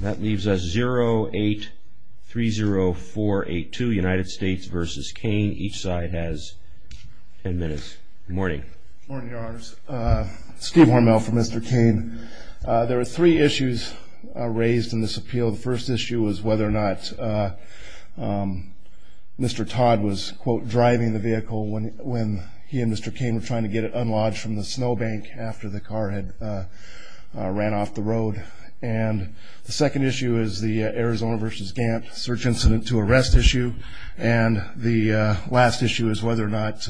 That leaves us 0830482 United States v. Cain. Each side has ten minutes. Good morning. Good morning, Your Honors. Steve Hormel for Mr. Cain. There were three issues raised in this appeal. The first issue was whether or not Mr. Todd was, quote, driving the vehicle when he and Mr. Cain were trying to get it unlodged from the snow bank after the car had ran off the road. And the second issue is the Arizona v. Gantt search incident to arrest issue. And the last issue is whether or not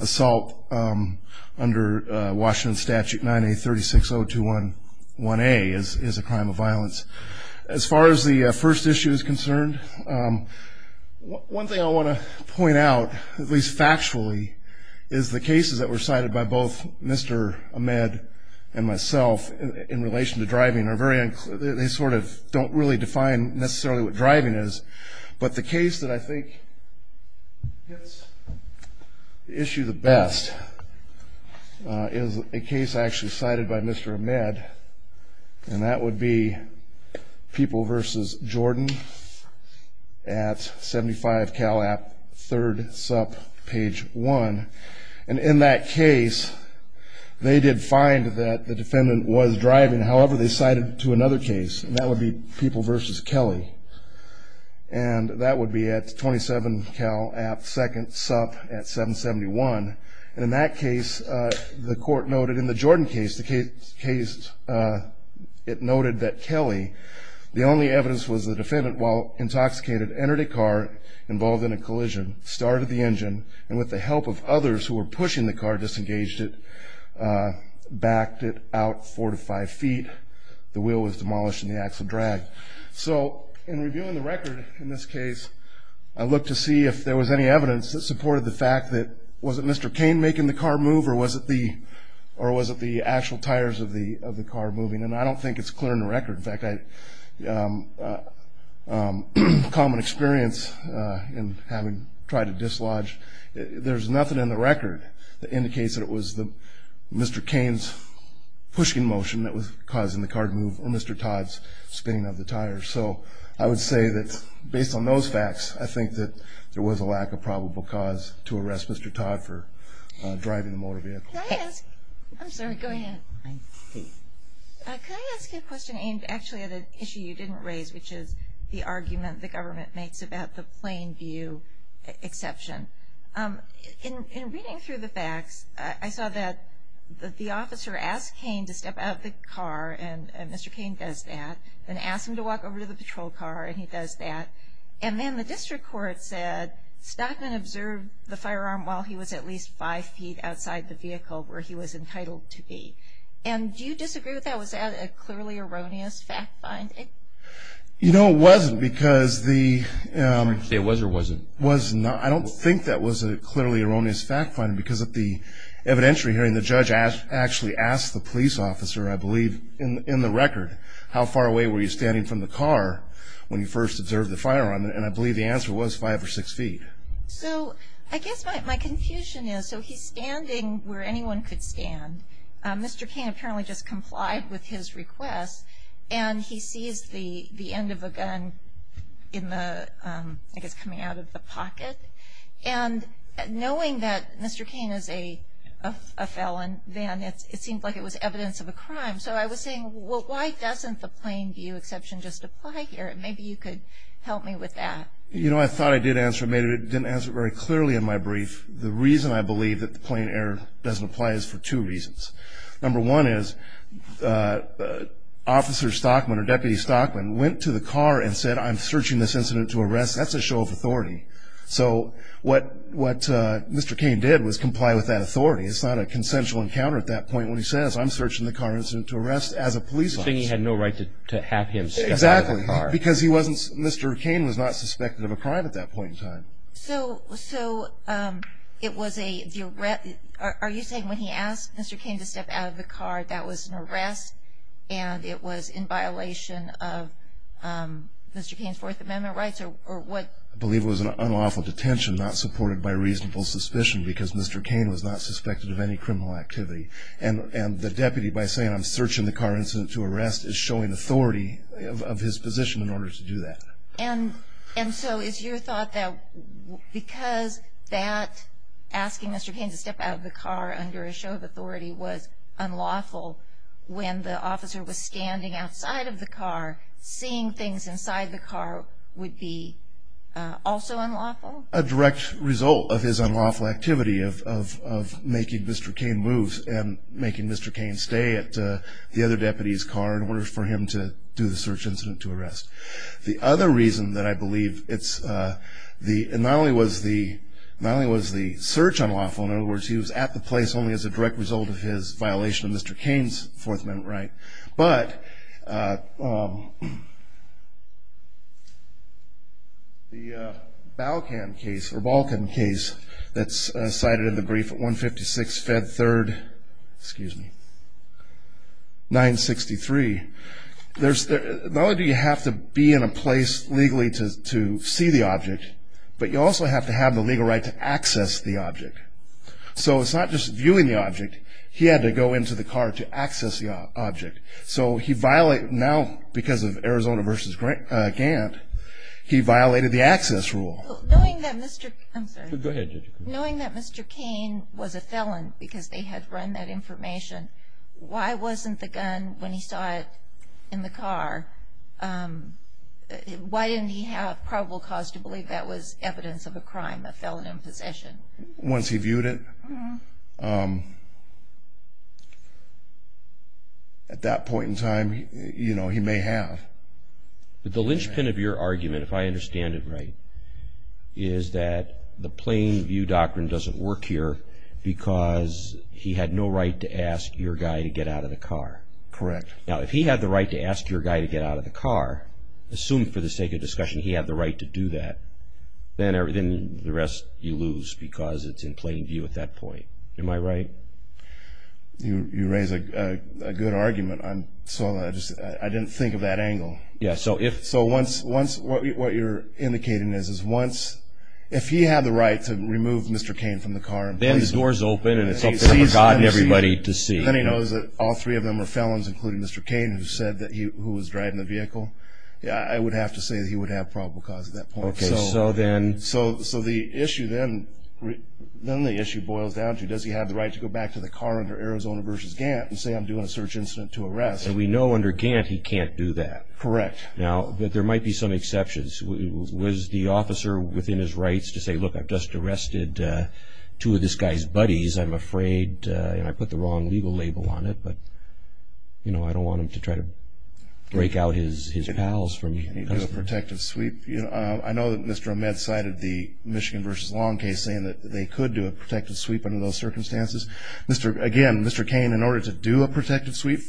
assault under Washington statute 9836021A is a crime of violence. As far as the first issue is concerned, one thing I want to point out, at least factually, is the cases that were cited by both Mr. Ahmed and myself in relation to driving are very unclear. They sort of don't really define necessarily what driving is. But the case that I think hits the issue the best is a case actually cited by Mr. Ahmed, and that would be People v. Jordan at 75 Cal App, 3rd Supp, page 1. And in that case, they did find that the defendant was driving. However, they cited to another case, and that would be People v. Kelly, and that would be at 27 Cal App, 2nd Supp at 771. And in that case, the court noted in the Jordan case, it noted that Kelly, the only evidence was the defendant, while intoxicated, entered a car involved in a collision, started the engine, and with the help of others who were pushing the car, disengaged it, backed it out 4 to 5 feet, the wheel was demolished, and the axle dragged. So in reviewing the record in this case, I looked to see if there was any evidence that supported the fact that was it Mr. Cain making the car move, or was it the actual tires of the car moving. And I don't think it's clear in the record. In fact, a common experience in having tried to dislodge, there's nothing in the record that indicates that it was Mr. Cain's pushing motion that was causing the car to move or Mr. Todd's spinning of the tires. So I would say that based on those facts, I think that there was a lack of probable cause to arrest Mr. Todd for driving a motor vehicle. Can I ask, I'm sorry, go ahead. Can I ask you a question aimed actually at an issue you didn't raise, which is the argument the government makes about the plain view exception. In reading through the facts, I saw that the officer asked Cain to step out of the car, and Mr. Cain does that, and asked him to walk over to the patrol car, and he does that. And then the district court said Stockman observed the firearm while he was at least five feet outside the vehicle where he was entitled to be. And do you disagree with that? Was that a clearly erroneous fact finding? You know, it wasn't because the – Did you say it was or was it? I don't think that was a clearly erroneous fact finding because of the evidentiary hearing. And the judge actually asked the police officer, I believe, in the record, how far away were you standing from the car when you first observed the firearm? And I believe the answer was five or six feet. So I guess my confusion is, so he's standing where anyone could stand. Mr. Cain apparently just complied with his request, and he sees the end of a gun in the – I guess coming out of the pocket. And knowing that Mr. Cain is a felon, then it seemed like it was evidence of a crime. So I was saying, well, why doesn't the plain view exception just apply here? Maybe you could help me with that. You know, I thought I did answer it. I didn't answer it very clearly in my brief. The reason I believe that the plain error doesn't apply is for two reasons. Number one is Officer Stockman or Deputy Stockman went to the car and said, I'm searching this incident to arrest. That's a show of authority. So what Mr. Cain did was comply with that authority. It's not a consensual encounter at that point when he says, I'm searching the car incident to arrest as a police officer. So he had no right to have him step out of the car. Exactly. Because he wasn't – Mr. Cain was not suspected of a crime at that point in time. So it was a – are you saying when he asked Mr. Cain to step out of the car, that was an arrest and it was in violation of Mr. Cain's Fourth Amendment rights or what? I believe it was an unlawful detention not supported by reasonable suspicion because Mr. Cain was not suspected of any criminal activity. And the deputy, by saying, I'm searching the car incident to arrest, is showing authority of his position in order to do that. And so is your thought that because that asking Mr. Cain to step out of the car under a show of authority was unlawful when the officer was standing outside of the car, seeing things inside the car would be also unlawful? A direct result of his unlawful activity of making Mr. Cain move and making Mr. Cain stay at the other deputy's car in order for him to do the search incident to arrest. The other reason that I believe it's – not only was the search unlawful, in other words, he was at the place only as a direct result of his violation of Mr. Cain's Fourth Amendment right, but the Balkan case that's cited in the brief at 156 Fed Third, excuse me, 963, not only do you have to be in a place legally to see the object, but you also have to have the legal right to access the object. So it's not just viewing the object. He had to go into the car to access the object. So he violated – now because of Arizona v. Gantt, he violated the access rule. Knowing that Mr. – I'm sorry. Go ahead, Judge. Knowing that Mr. Cain was a felon because they had run that information, why wasn't the gun when he saw it in the car – why didn't he have probable cause to believe that was evidence of a crime, a felon in possession? Once he viewed it, at that point in time, you know, he may have. But the linchpin of your argument, if I understand it right, is that the plain view doctrine doesn't work here because he had no right to ask your guy to get out of the car. Correct. Now, if he had the right to ask your guy to get out of the car, assuming for the sake of discussion he had the right to do that, then the rest you lose because it's in plain view at that point. Am I right? You raise a good argument. I didn't think of that angle. Yeah, so if – What you're indicating is once – if he had the right to remove Mr. Cain from the car – Then the door's open and it's up to him or God and everybody to see. Then he knows that all three of them are felons, including Mr. Cain who said that he was driving the vehicle, I would have to say that he would have probable cause at that point. Okay, so then – So the issue then – then the issue boils down to does he have the right to go back to the car under Arizona v. Gant and say I'm doing a search incident to arrest? And we know under Gant he can't do that. Correct. Now, there might be some exceptions. Was the officer within his rights to say, look, I've just arrested two of this guy's buddies, I'm afraid, and I put the wrong legal label on it, but I don't want him to try to break out his pals from – Can he do a protective sweep? I know that Mr. Ahmed cited the Michigan v. Long case saying that they could do a protective sweep under those circumstances. Again, Mr. Cain, in order to do a protective sweep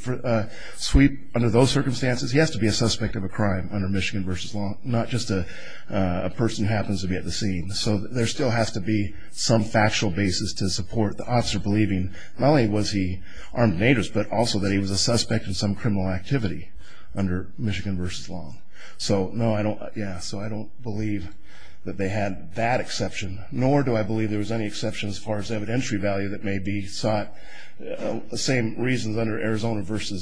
under those circumstances, he has to be a suspect of a crime under Michigan v. Long, not just a person who happens to be at the scene. So there still has to be some factual basis to support the officer believing not only was he armed and dangerous, but also that he was a suspect in some criminal activity under Michigan v. Long. So, no, I don't – yeah, so I don't believe that they had that exception, nor do I believe there was any exception as far as evidentiary value that may be sought. The same reasons under Arizona v.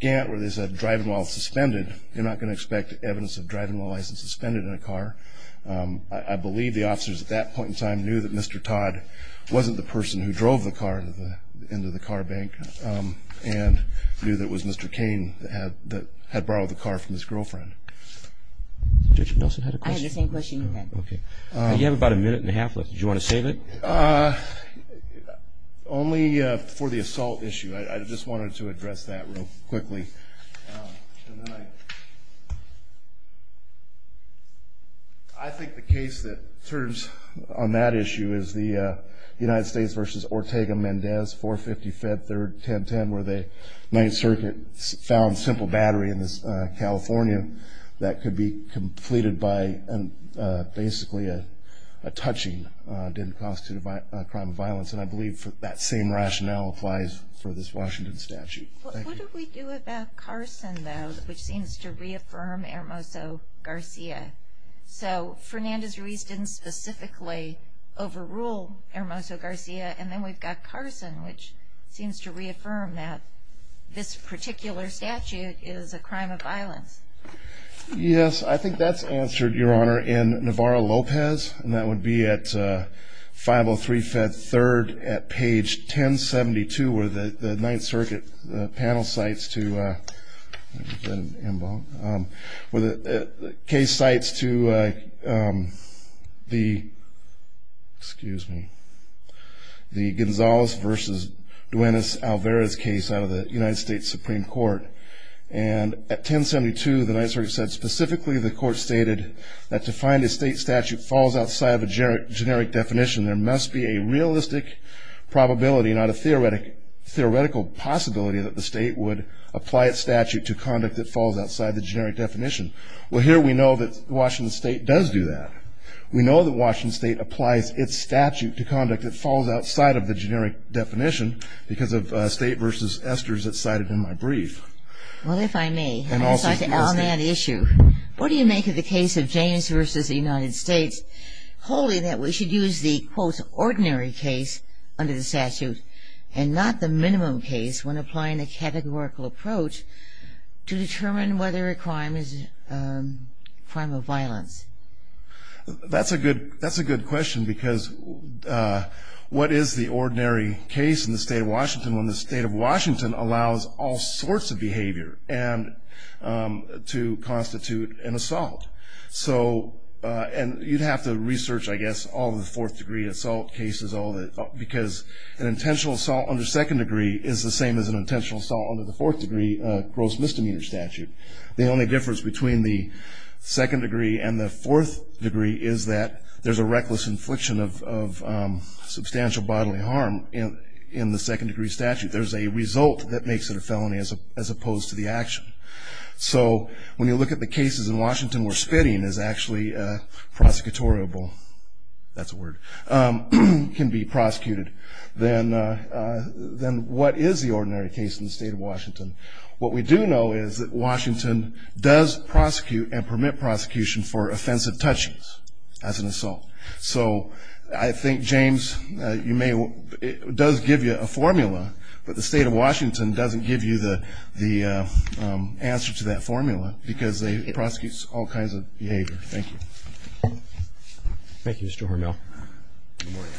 Gant where they said drive-in while suspended, you're not going to expect evidence of drive-in while licensed suspended in a car. I believe the officers at that point in time knew that Mr. Todd wasn't the person who drove the car into the car bank and knew that it was Mr. Cain that had borrowed the car from his girlfriend. Judge Nelson had a question. I had the same question you had. Okay. You have about a minute and a half left. Did you want to save it? Only for the assault issue. I just wanted to address that real quickly. And then I think the case that serves on that issue is the United States v. Ortega-Mendez, 450 Fed 3rd, 1010, where the Ninth Circuit found simple battery in California that could be completed by basically a touching, didn't constitute a crime of violence. And I believe that same rationale applies for this Washington statute. What do we do about Carson, though, which seems to reaffirm Hermoso-Garcia? So Fernandez-Ruiz didn't specifically overrule Hermoso-Garcia, and then we've got Carson, which seems to reaffirm that this particular statute is a crime of violence. Yes, I think that's answered, Your Honor. We're in Navarro-Lopez, and that would be at 503 Fed 3rd at page 1072 where the Ninth Circuit panel cites to the case cites to the Gonzales v. Duenas-Alvarez case out of the United States Supreme Court. And at 1072, the Ninth Circuit said specifically the court stated that to find a state statute falls outside of a generic definition, there must be a realistic probability, not a theoretical possibility, that the state would apply its statute to conduct that falls outside the generic definition. Well, here we know that Washington State does do that. We know that Washington State applies its statute to conduct that falls outside of the generic definition because of State v. Esters that's cited in my brief. Well, if I may, I'd like to add on that issue. What do you make of the case of James v. United States, holding that we should use the, quote, ordinary case under the statute and not the minimum case when applying a categorical approach to determine whether a crime is a crime of violence? That's a good question because what is the ordinary case in the State of Washington when the State of Washington allows all sorts of behavior to constitute an assault? And you'd have to research, I guess, all the fourth degree assault cases because an intentional assault under second degree is the same as an intentional assault under the fourth degree gross misdemeanor statute. The only difference between the second degree and the fourth degree is that there's a reckless infliction of substantial bodily harm in the second degree statute. There's a result that makes it a felony as opposed to the action. So when you look at the cases in Washington where spitting is actually prosecutorable, that's a word, can be prosecuted, then what is the ordinary case in the State of Washington? What we do know is that Washington does prosecute and permit prosecution for offensive touchings as an assault. So I think, James, it does give you a formula, but the State of Washington doesn't give you the answer to that formula because they prosecute all kinds of behavior. Thank you. Thank you, Mr. Hormel. Good morning.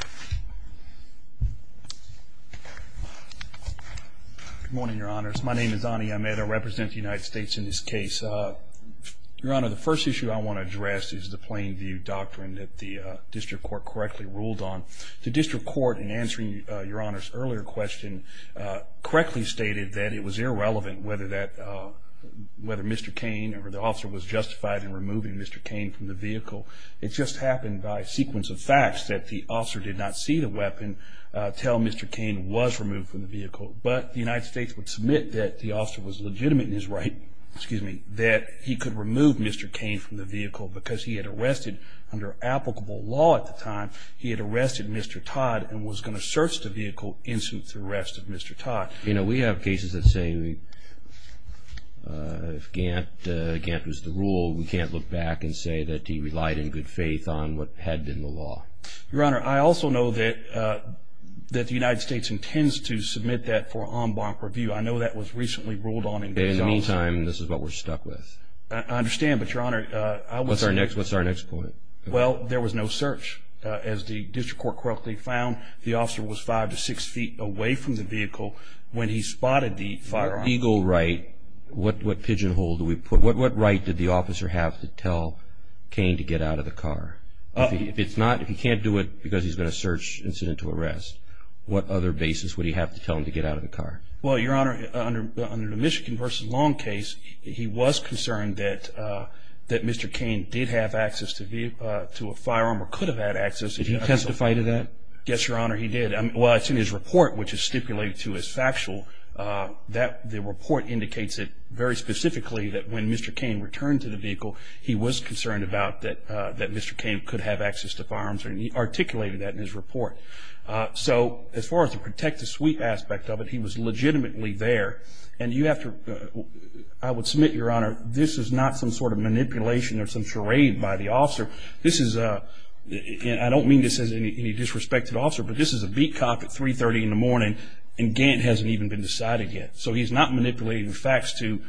Good morning, Your Honors. My name is Ani Ahmed. I represent the United States in this case. Your Honor, the first issue I want to address is the plain view doctrine that the district court correctly ruled on. The district court, in answering Your Honor's earlier question, correctly stated that it was irrelevant whether Mr. Cain or the officer was justified in removing Mr. Cain from the vehicle. It just happened by sequence of facts that the officer did not see the weapon until Mr. Cain was removed from the vehicle. But the United States would submit that the officer was legitimate in his right, excuse me, that he could remove Mr. Cain from the vehicle because he had arrested, under applicable law at the time, he had arrested Mr. Todd and was going to search the vehicle instant the arrest of Mr. Todd. You know, we have cases that say if Gant was the rule, we can't look back and say that he relied in good faith on what had been the law. Your Honor, I also know that the United States intends to submit that for en banc review. I know that was recently ruled on in good faith. In the meantime, this is what we're stuck with. I understand, but, Your Honor, I was... What's our next point? Well, there was no search. As the district court correctly found, the officer was five to six feet away from the vehicle when he spotted the firearm. Legal right, what pigeon hole do we put? What right did the officer have to tell Cain to get out of the car? If he can't do it because he's going to search incident to arrest, what other basis would he have to tell him to get out of the car? Well, Your Honor, under the Michigan v. Long case, he was concerned that Mr. Cain did have access to a firearm or could have had access. Did he testify to that? Yes, Your Honor, he did. Well, it's in his report, which is stipulated to as factual. The report indicates it very specifically that when Mr. Cain returned to the vehicle, he was concerned about that Mr. Cain could have access to firearms, and he articulated that in his report. So as far as the protect the sweep aspect of it, he was legitimately there. I would submit, Your Honor, this is not some sort of manipulation or some charade by the officer. I don't mean this as any disrespected officer, but this is a beat cop at 3.30 in the morning, and Gant hasn't even been decided yet. So he's not manipulating the facts to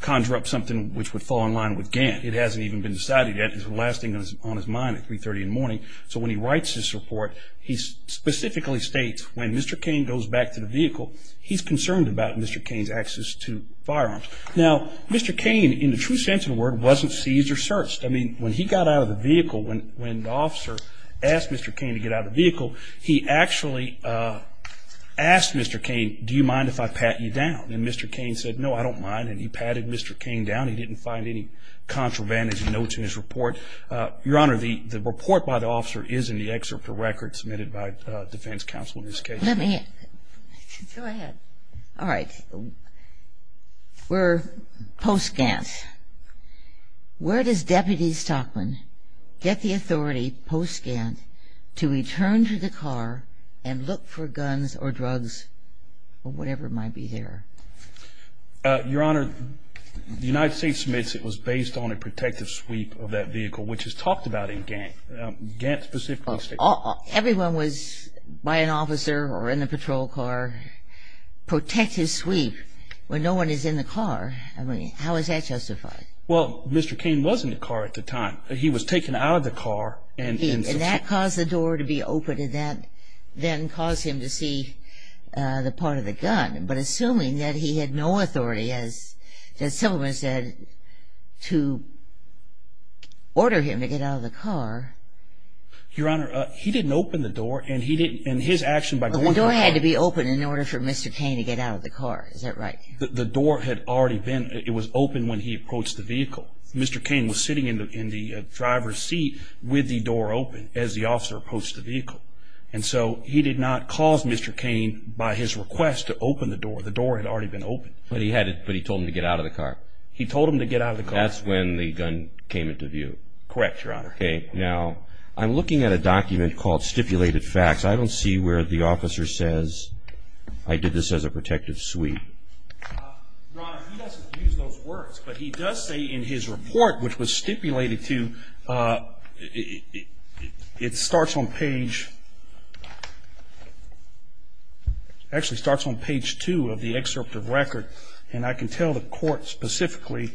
conjure up something which would fall in line with Gant. It hasn't even been decided yet. It's the last thing on his mind at 3.30 in the morning. So when he writes this report, he specifically states, when Mr. Cain goes back to the vehicle, he's concerned about Mr. Cain's access to firearms. Now, Mr. Cain, in the true sense of the word, wasn't seized or searched. I mean, when he got out of the vehicle, when the officer asked Mr. Cain to get out of the vehicle, he actually asked Mr. Cain, do you mind if I pat you down? And Mr. Cain said, no, I don't mind, and he patted Mr. Cain down. He didn't find any contravantage notes in his report. Your Honor, the report by the officer is in the excerpt of records submitted by defense counsel in this case. Let me go ahead. All right. For post-Gant, where does Deputy Stockman get the authority post-Gant to return to the car and look for guns or drugs or whatever might be there? Your Honor, the United States submits it was based on a protective sweep of that vehicle, which is talked about in Gant. Gant specifically states that. Everyone was, by an officer or in a patrol car, protected sweep when no one is in the car. I mean, how is that justified? Well, Mr. Cain was in the car at the time. He was taken out of the car. And that caused the door to be opened, and that then caused him to see the part of the gun. But assuming that he had no authority, as Simpleman said, to order him to get out of the car. Your Honor, he didn't open the door, and his action by going to the car. The door had to be opened in order for Mr. Cain to get out of the car. Is that right? The door had already been, it was open when he approached the vehicle. Mr. Cain was sitting in the driver's seat with the door open as the officer approached the vehicle. And so he did not cause Mr. Cain, by his request, to open the door. The door had already been opened. But he told him to get out of the car? He told him to get out of the car. That's when the gun came into view? Correct, Your Honor. Okay. Now, I'm looking at a document called stipulated facts. I don't see where the officer says, I did this as a protective sweep. Your Honor, he doesn't use those words. But he does say in his report, which was stipulated to, it starts on page, actually starts on page two of the excerpt of record. And I can tell the court specifically.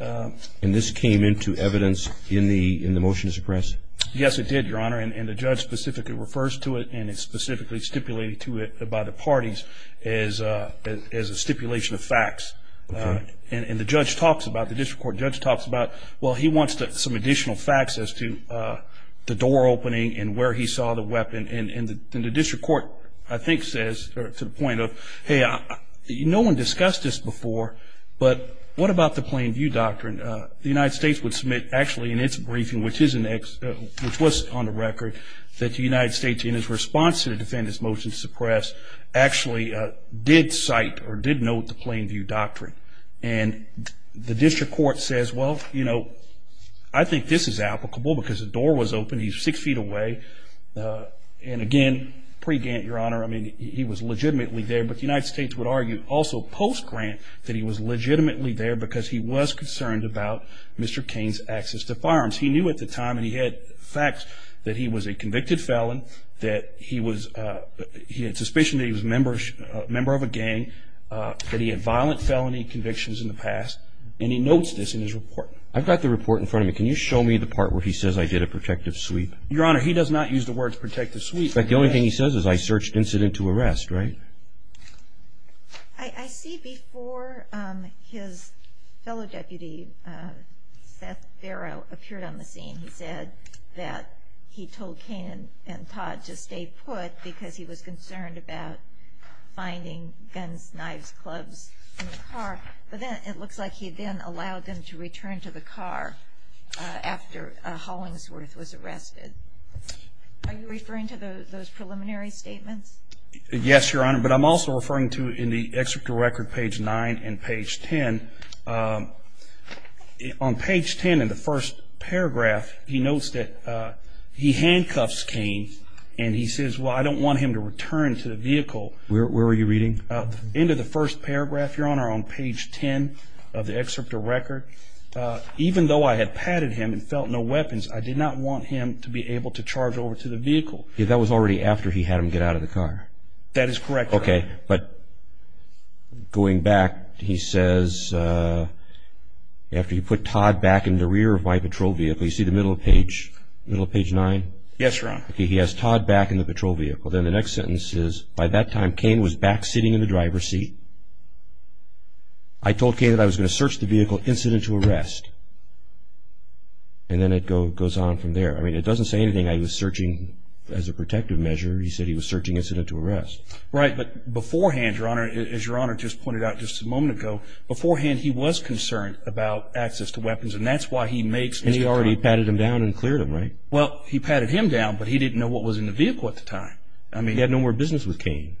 And this came into evidence in the motion to suppress? Yes, it did, Your Honor. And the judge specifically refers to it, and it's specifically stipulated to it by the parties as a stipulation of facts. And the judge talks about, the district court judge talks about, well, he wants some additional facts as to the door opening and where he saw the weapon. And the district court, I think, says to the point of, hey, no one discussed this before, but what about the plain view doctrine? The United States would submit, actually, in its briefing, which was on the record, that the United States, in its response to the defendant's motion to suppress, actually did cite or did note the plain view doctrine. And the district court says, well, you know, I think this is applicable because the door was open, he's six feet away. And, again, pre-Gant, Your Honor, I mean, he was legitimately there. But the United States would argue also post-Grant that he was legitimately there because he was concerned about Mr. Cain's access to firearms. He knew at the time, and he had facts, that he was a convicted felon, that he had suspicion that he was a member of a gang, that he had violent felony convictions in the past, and he notes this in his report. I've got the report in front of me. Can you show me the part where he says I did a protective sweep? Your Honor, he does not use the words protective sweep. But the only thing he says is I searched incident to arrest, right? I see before his fellow deputy, Seth Farrow, appeared on the scene. He said that he told Cain and Todd to stay put because he was concerned about finding guns, knives, clubs in the car. But then it looks like he then allowed them to return to the car after Hollingsworth was arrested. Are you referring to those preliminary statements? Yes, Your Honor. But I'm also referring to in the executive record, page 9 and page 10. On page 10 in the first paragraph, he notes that he handcuffs Cain and he says, well, I don't want him to return to the vehicle. Where were you reading? Into the first paragraph, Your Honor, on page 10 of the executive record. Even though I had patted him and felt no weapons, I did not want him to be able to charge over to the vehicle. That was already after he had him get out of the car. That is correct, Your Honor. Okay, but going back, he says, after he put Todd back in the rear of my patrol vehicle, you see the middle of page 9? Yes, Your Honor. He has Todd back in the patrol vehicle. Then the next sentence is, by that time, Cain was back sitting in the driver's seat. I told Cain that I was going to search the vehicle incident to arrest. And then it goes on from there. I mean, it doesn't say anything. I was searching as a protective measure. He said he was searching incident to arrest. Right, but beforehand, Your Honor, as Your Honor just pointed out just a moment ago, beforehand he was concerned about access to weapons, and that's why he makes this conclusion. And he already patted him down and cleared him, right? Well, he patted him down, but he didn't know what was in the vehicle at the time. I mean, he had no more business with Cain.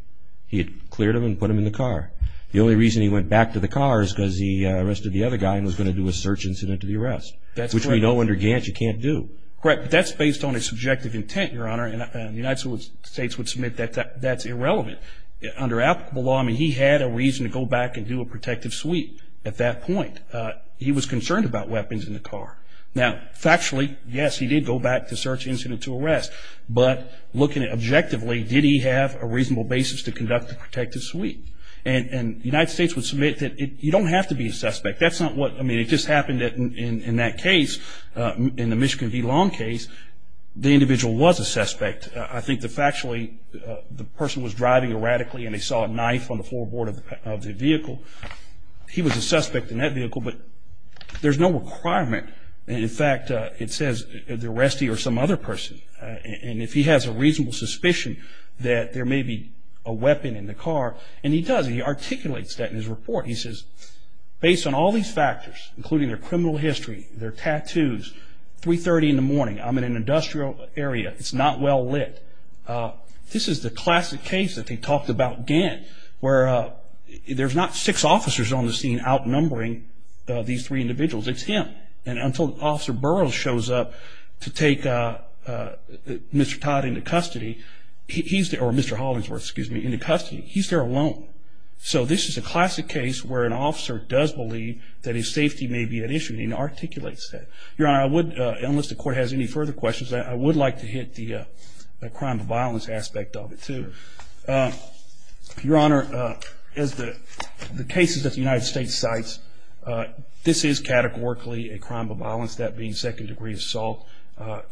He had cleared him and put him in the car. The only reason he went back to the car is because he arrested the other guy and was going to do a search incident to the arrest, which we know under Gant you can't do. Correct, but that's based on a subjective intent, Your Honor, and the United States would submit that that's irrelevant. Under applicable law, I mean, he had a reason to go back and do a protective sweep at that point. He was concerned about weapons in the car. Now, factually, yes, he did go back to search incident to arrest, but looking at it objectively, did he have a reasonable basis to conduct a protective sweep? And the United States would submit that you don't have to be a suspect. That's not what – I mean, it just happened that in that case, in the Michigan v. Long case, the individual was a suspect. I think that factually the person was driving erratically and they saw a knife on the floorboard of the vehicle. He was a suspect in that vehicle, but there's no requirement. In fact, it says the arrestee or some other person, and if he has a reasonable suspicion that there may be a weapon in the car, and he does, and he articulates that in his report. He says, based on all these factors, including their criminal history, their tattoos, 3.30 in the morning, I'm in an industrial area. It's not well lit. This is the classic case that they talked about again, where there's not six officers on the scene outnumbering these three individuals. It's him. And until Officer Burroughs shows up to take Mr. Todd into custody, or Mr. Hollingsworth, excuse me, into custody, he's there alone. So this is a classic case where an officer does believe that his safety may be at issue, and he articulates that. Your Honor, I would, unless the Court has any further questions, I would like to hit the crime of violence aspect of it, too. Your Honor, as the cases that the United States cites, this is categorically a crime of violence, that being second-degree assault.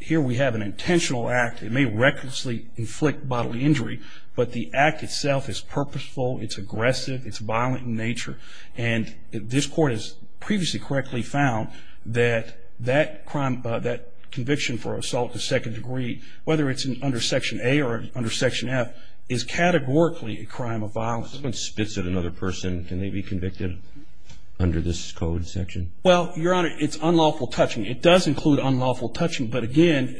Here we have an intentional act. It may recklessly inflict bodily injury, but the act itself is purposeful. It's aggressive. It's violent in nature. And this Court has previously correctly found that that crime, that conviction for assault to second degree, whether it's under Section A or under Section F, is categorically a crime of violence. If someone spits at another person, can they be convicted under this code section? Well, Your Honor, it's unlawful touching. It does include unlawful touching, but again,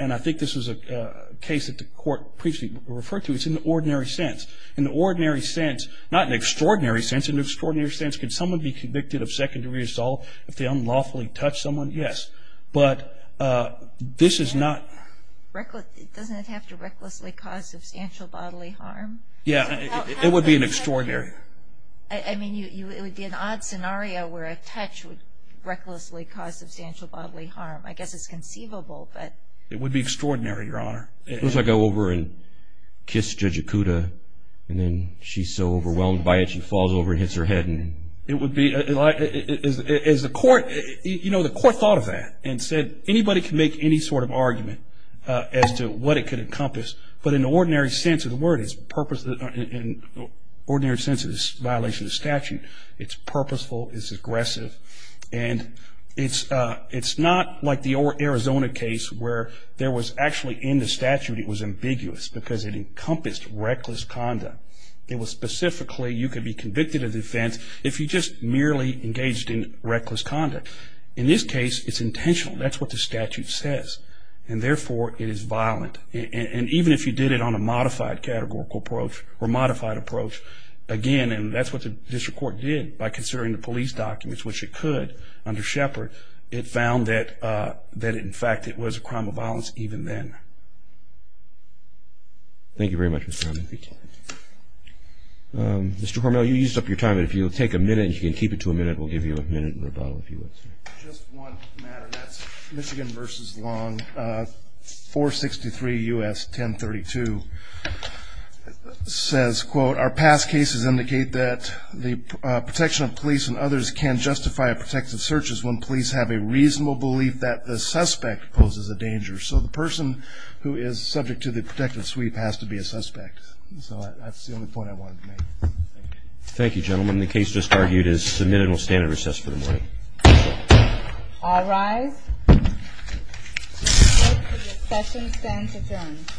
and I think this is a case that the Court previously referred to, it's in the ordinary sense. In the ordinary sense, not in the extraordinary sense. In the extraordinary sense, can someone be convicted of second-degree assault if they unlawfully touch someone? Yes. But this is not. Doesn't it have to recklessly cause substantial bodily harm? Yeah, it would be an extraordinary. I mean, it would be an odd scenario where a touch would recklessly cause substantial bodily harm. I guess it's conceivable, but. It would be extraordinary, Your Honor. What if I go over and kiss Judge Okuda, and then she's so overwhelmed by it, she falls over and hits her head? It would be, as the Court, you know, the Court thought of that and said anybody can make any sort of argument as to what it could encompass, but in the ordinary sense of the word, in the ordinary sense of this violation of statute, it's purposeful, it's aggressive, and it's not like the Arizona case where there was actually in the statute it was ambiguous because it encompassed reckless conduct. It was specifically you could be convicted of the offense if you just merely engaged in reckless conduct. In this case, it's intentional. That's what the statute says, and therefore it is violent. And even if you did it on a modified categorical approach or modified approach, again, and that's what the district court did by considering the police documents, which it could under Shepard, it found that in fact it was a crime of violence even then. Thank you very much, Mr. Hormel. Mr. Hormel, you used up your time. If you'll take a minute and you can keep it to a minute, we'll give you a minute and rebuttal if you would. Just one matter, and that's Michigan v. Long. 463 U.S. 1032 says, quote, Our past cases indicate that the protection of police and others can justify protective searches when police have a reasonable belief that the suspect poses a danger. So the person who is subject to the protective sweep has to be a suspect. So that's the only point I wanted to make. Thank you, gentlemen. The case just argued is submitted and will stand at recess for the morning. All rise. The session stands adjourned.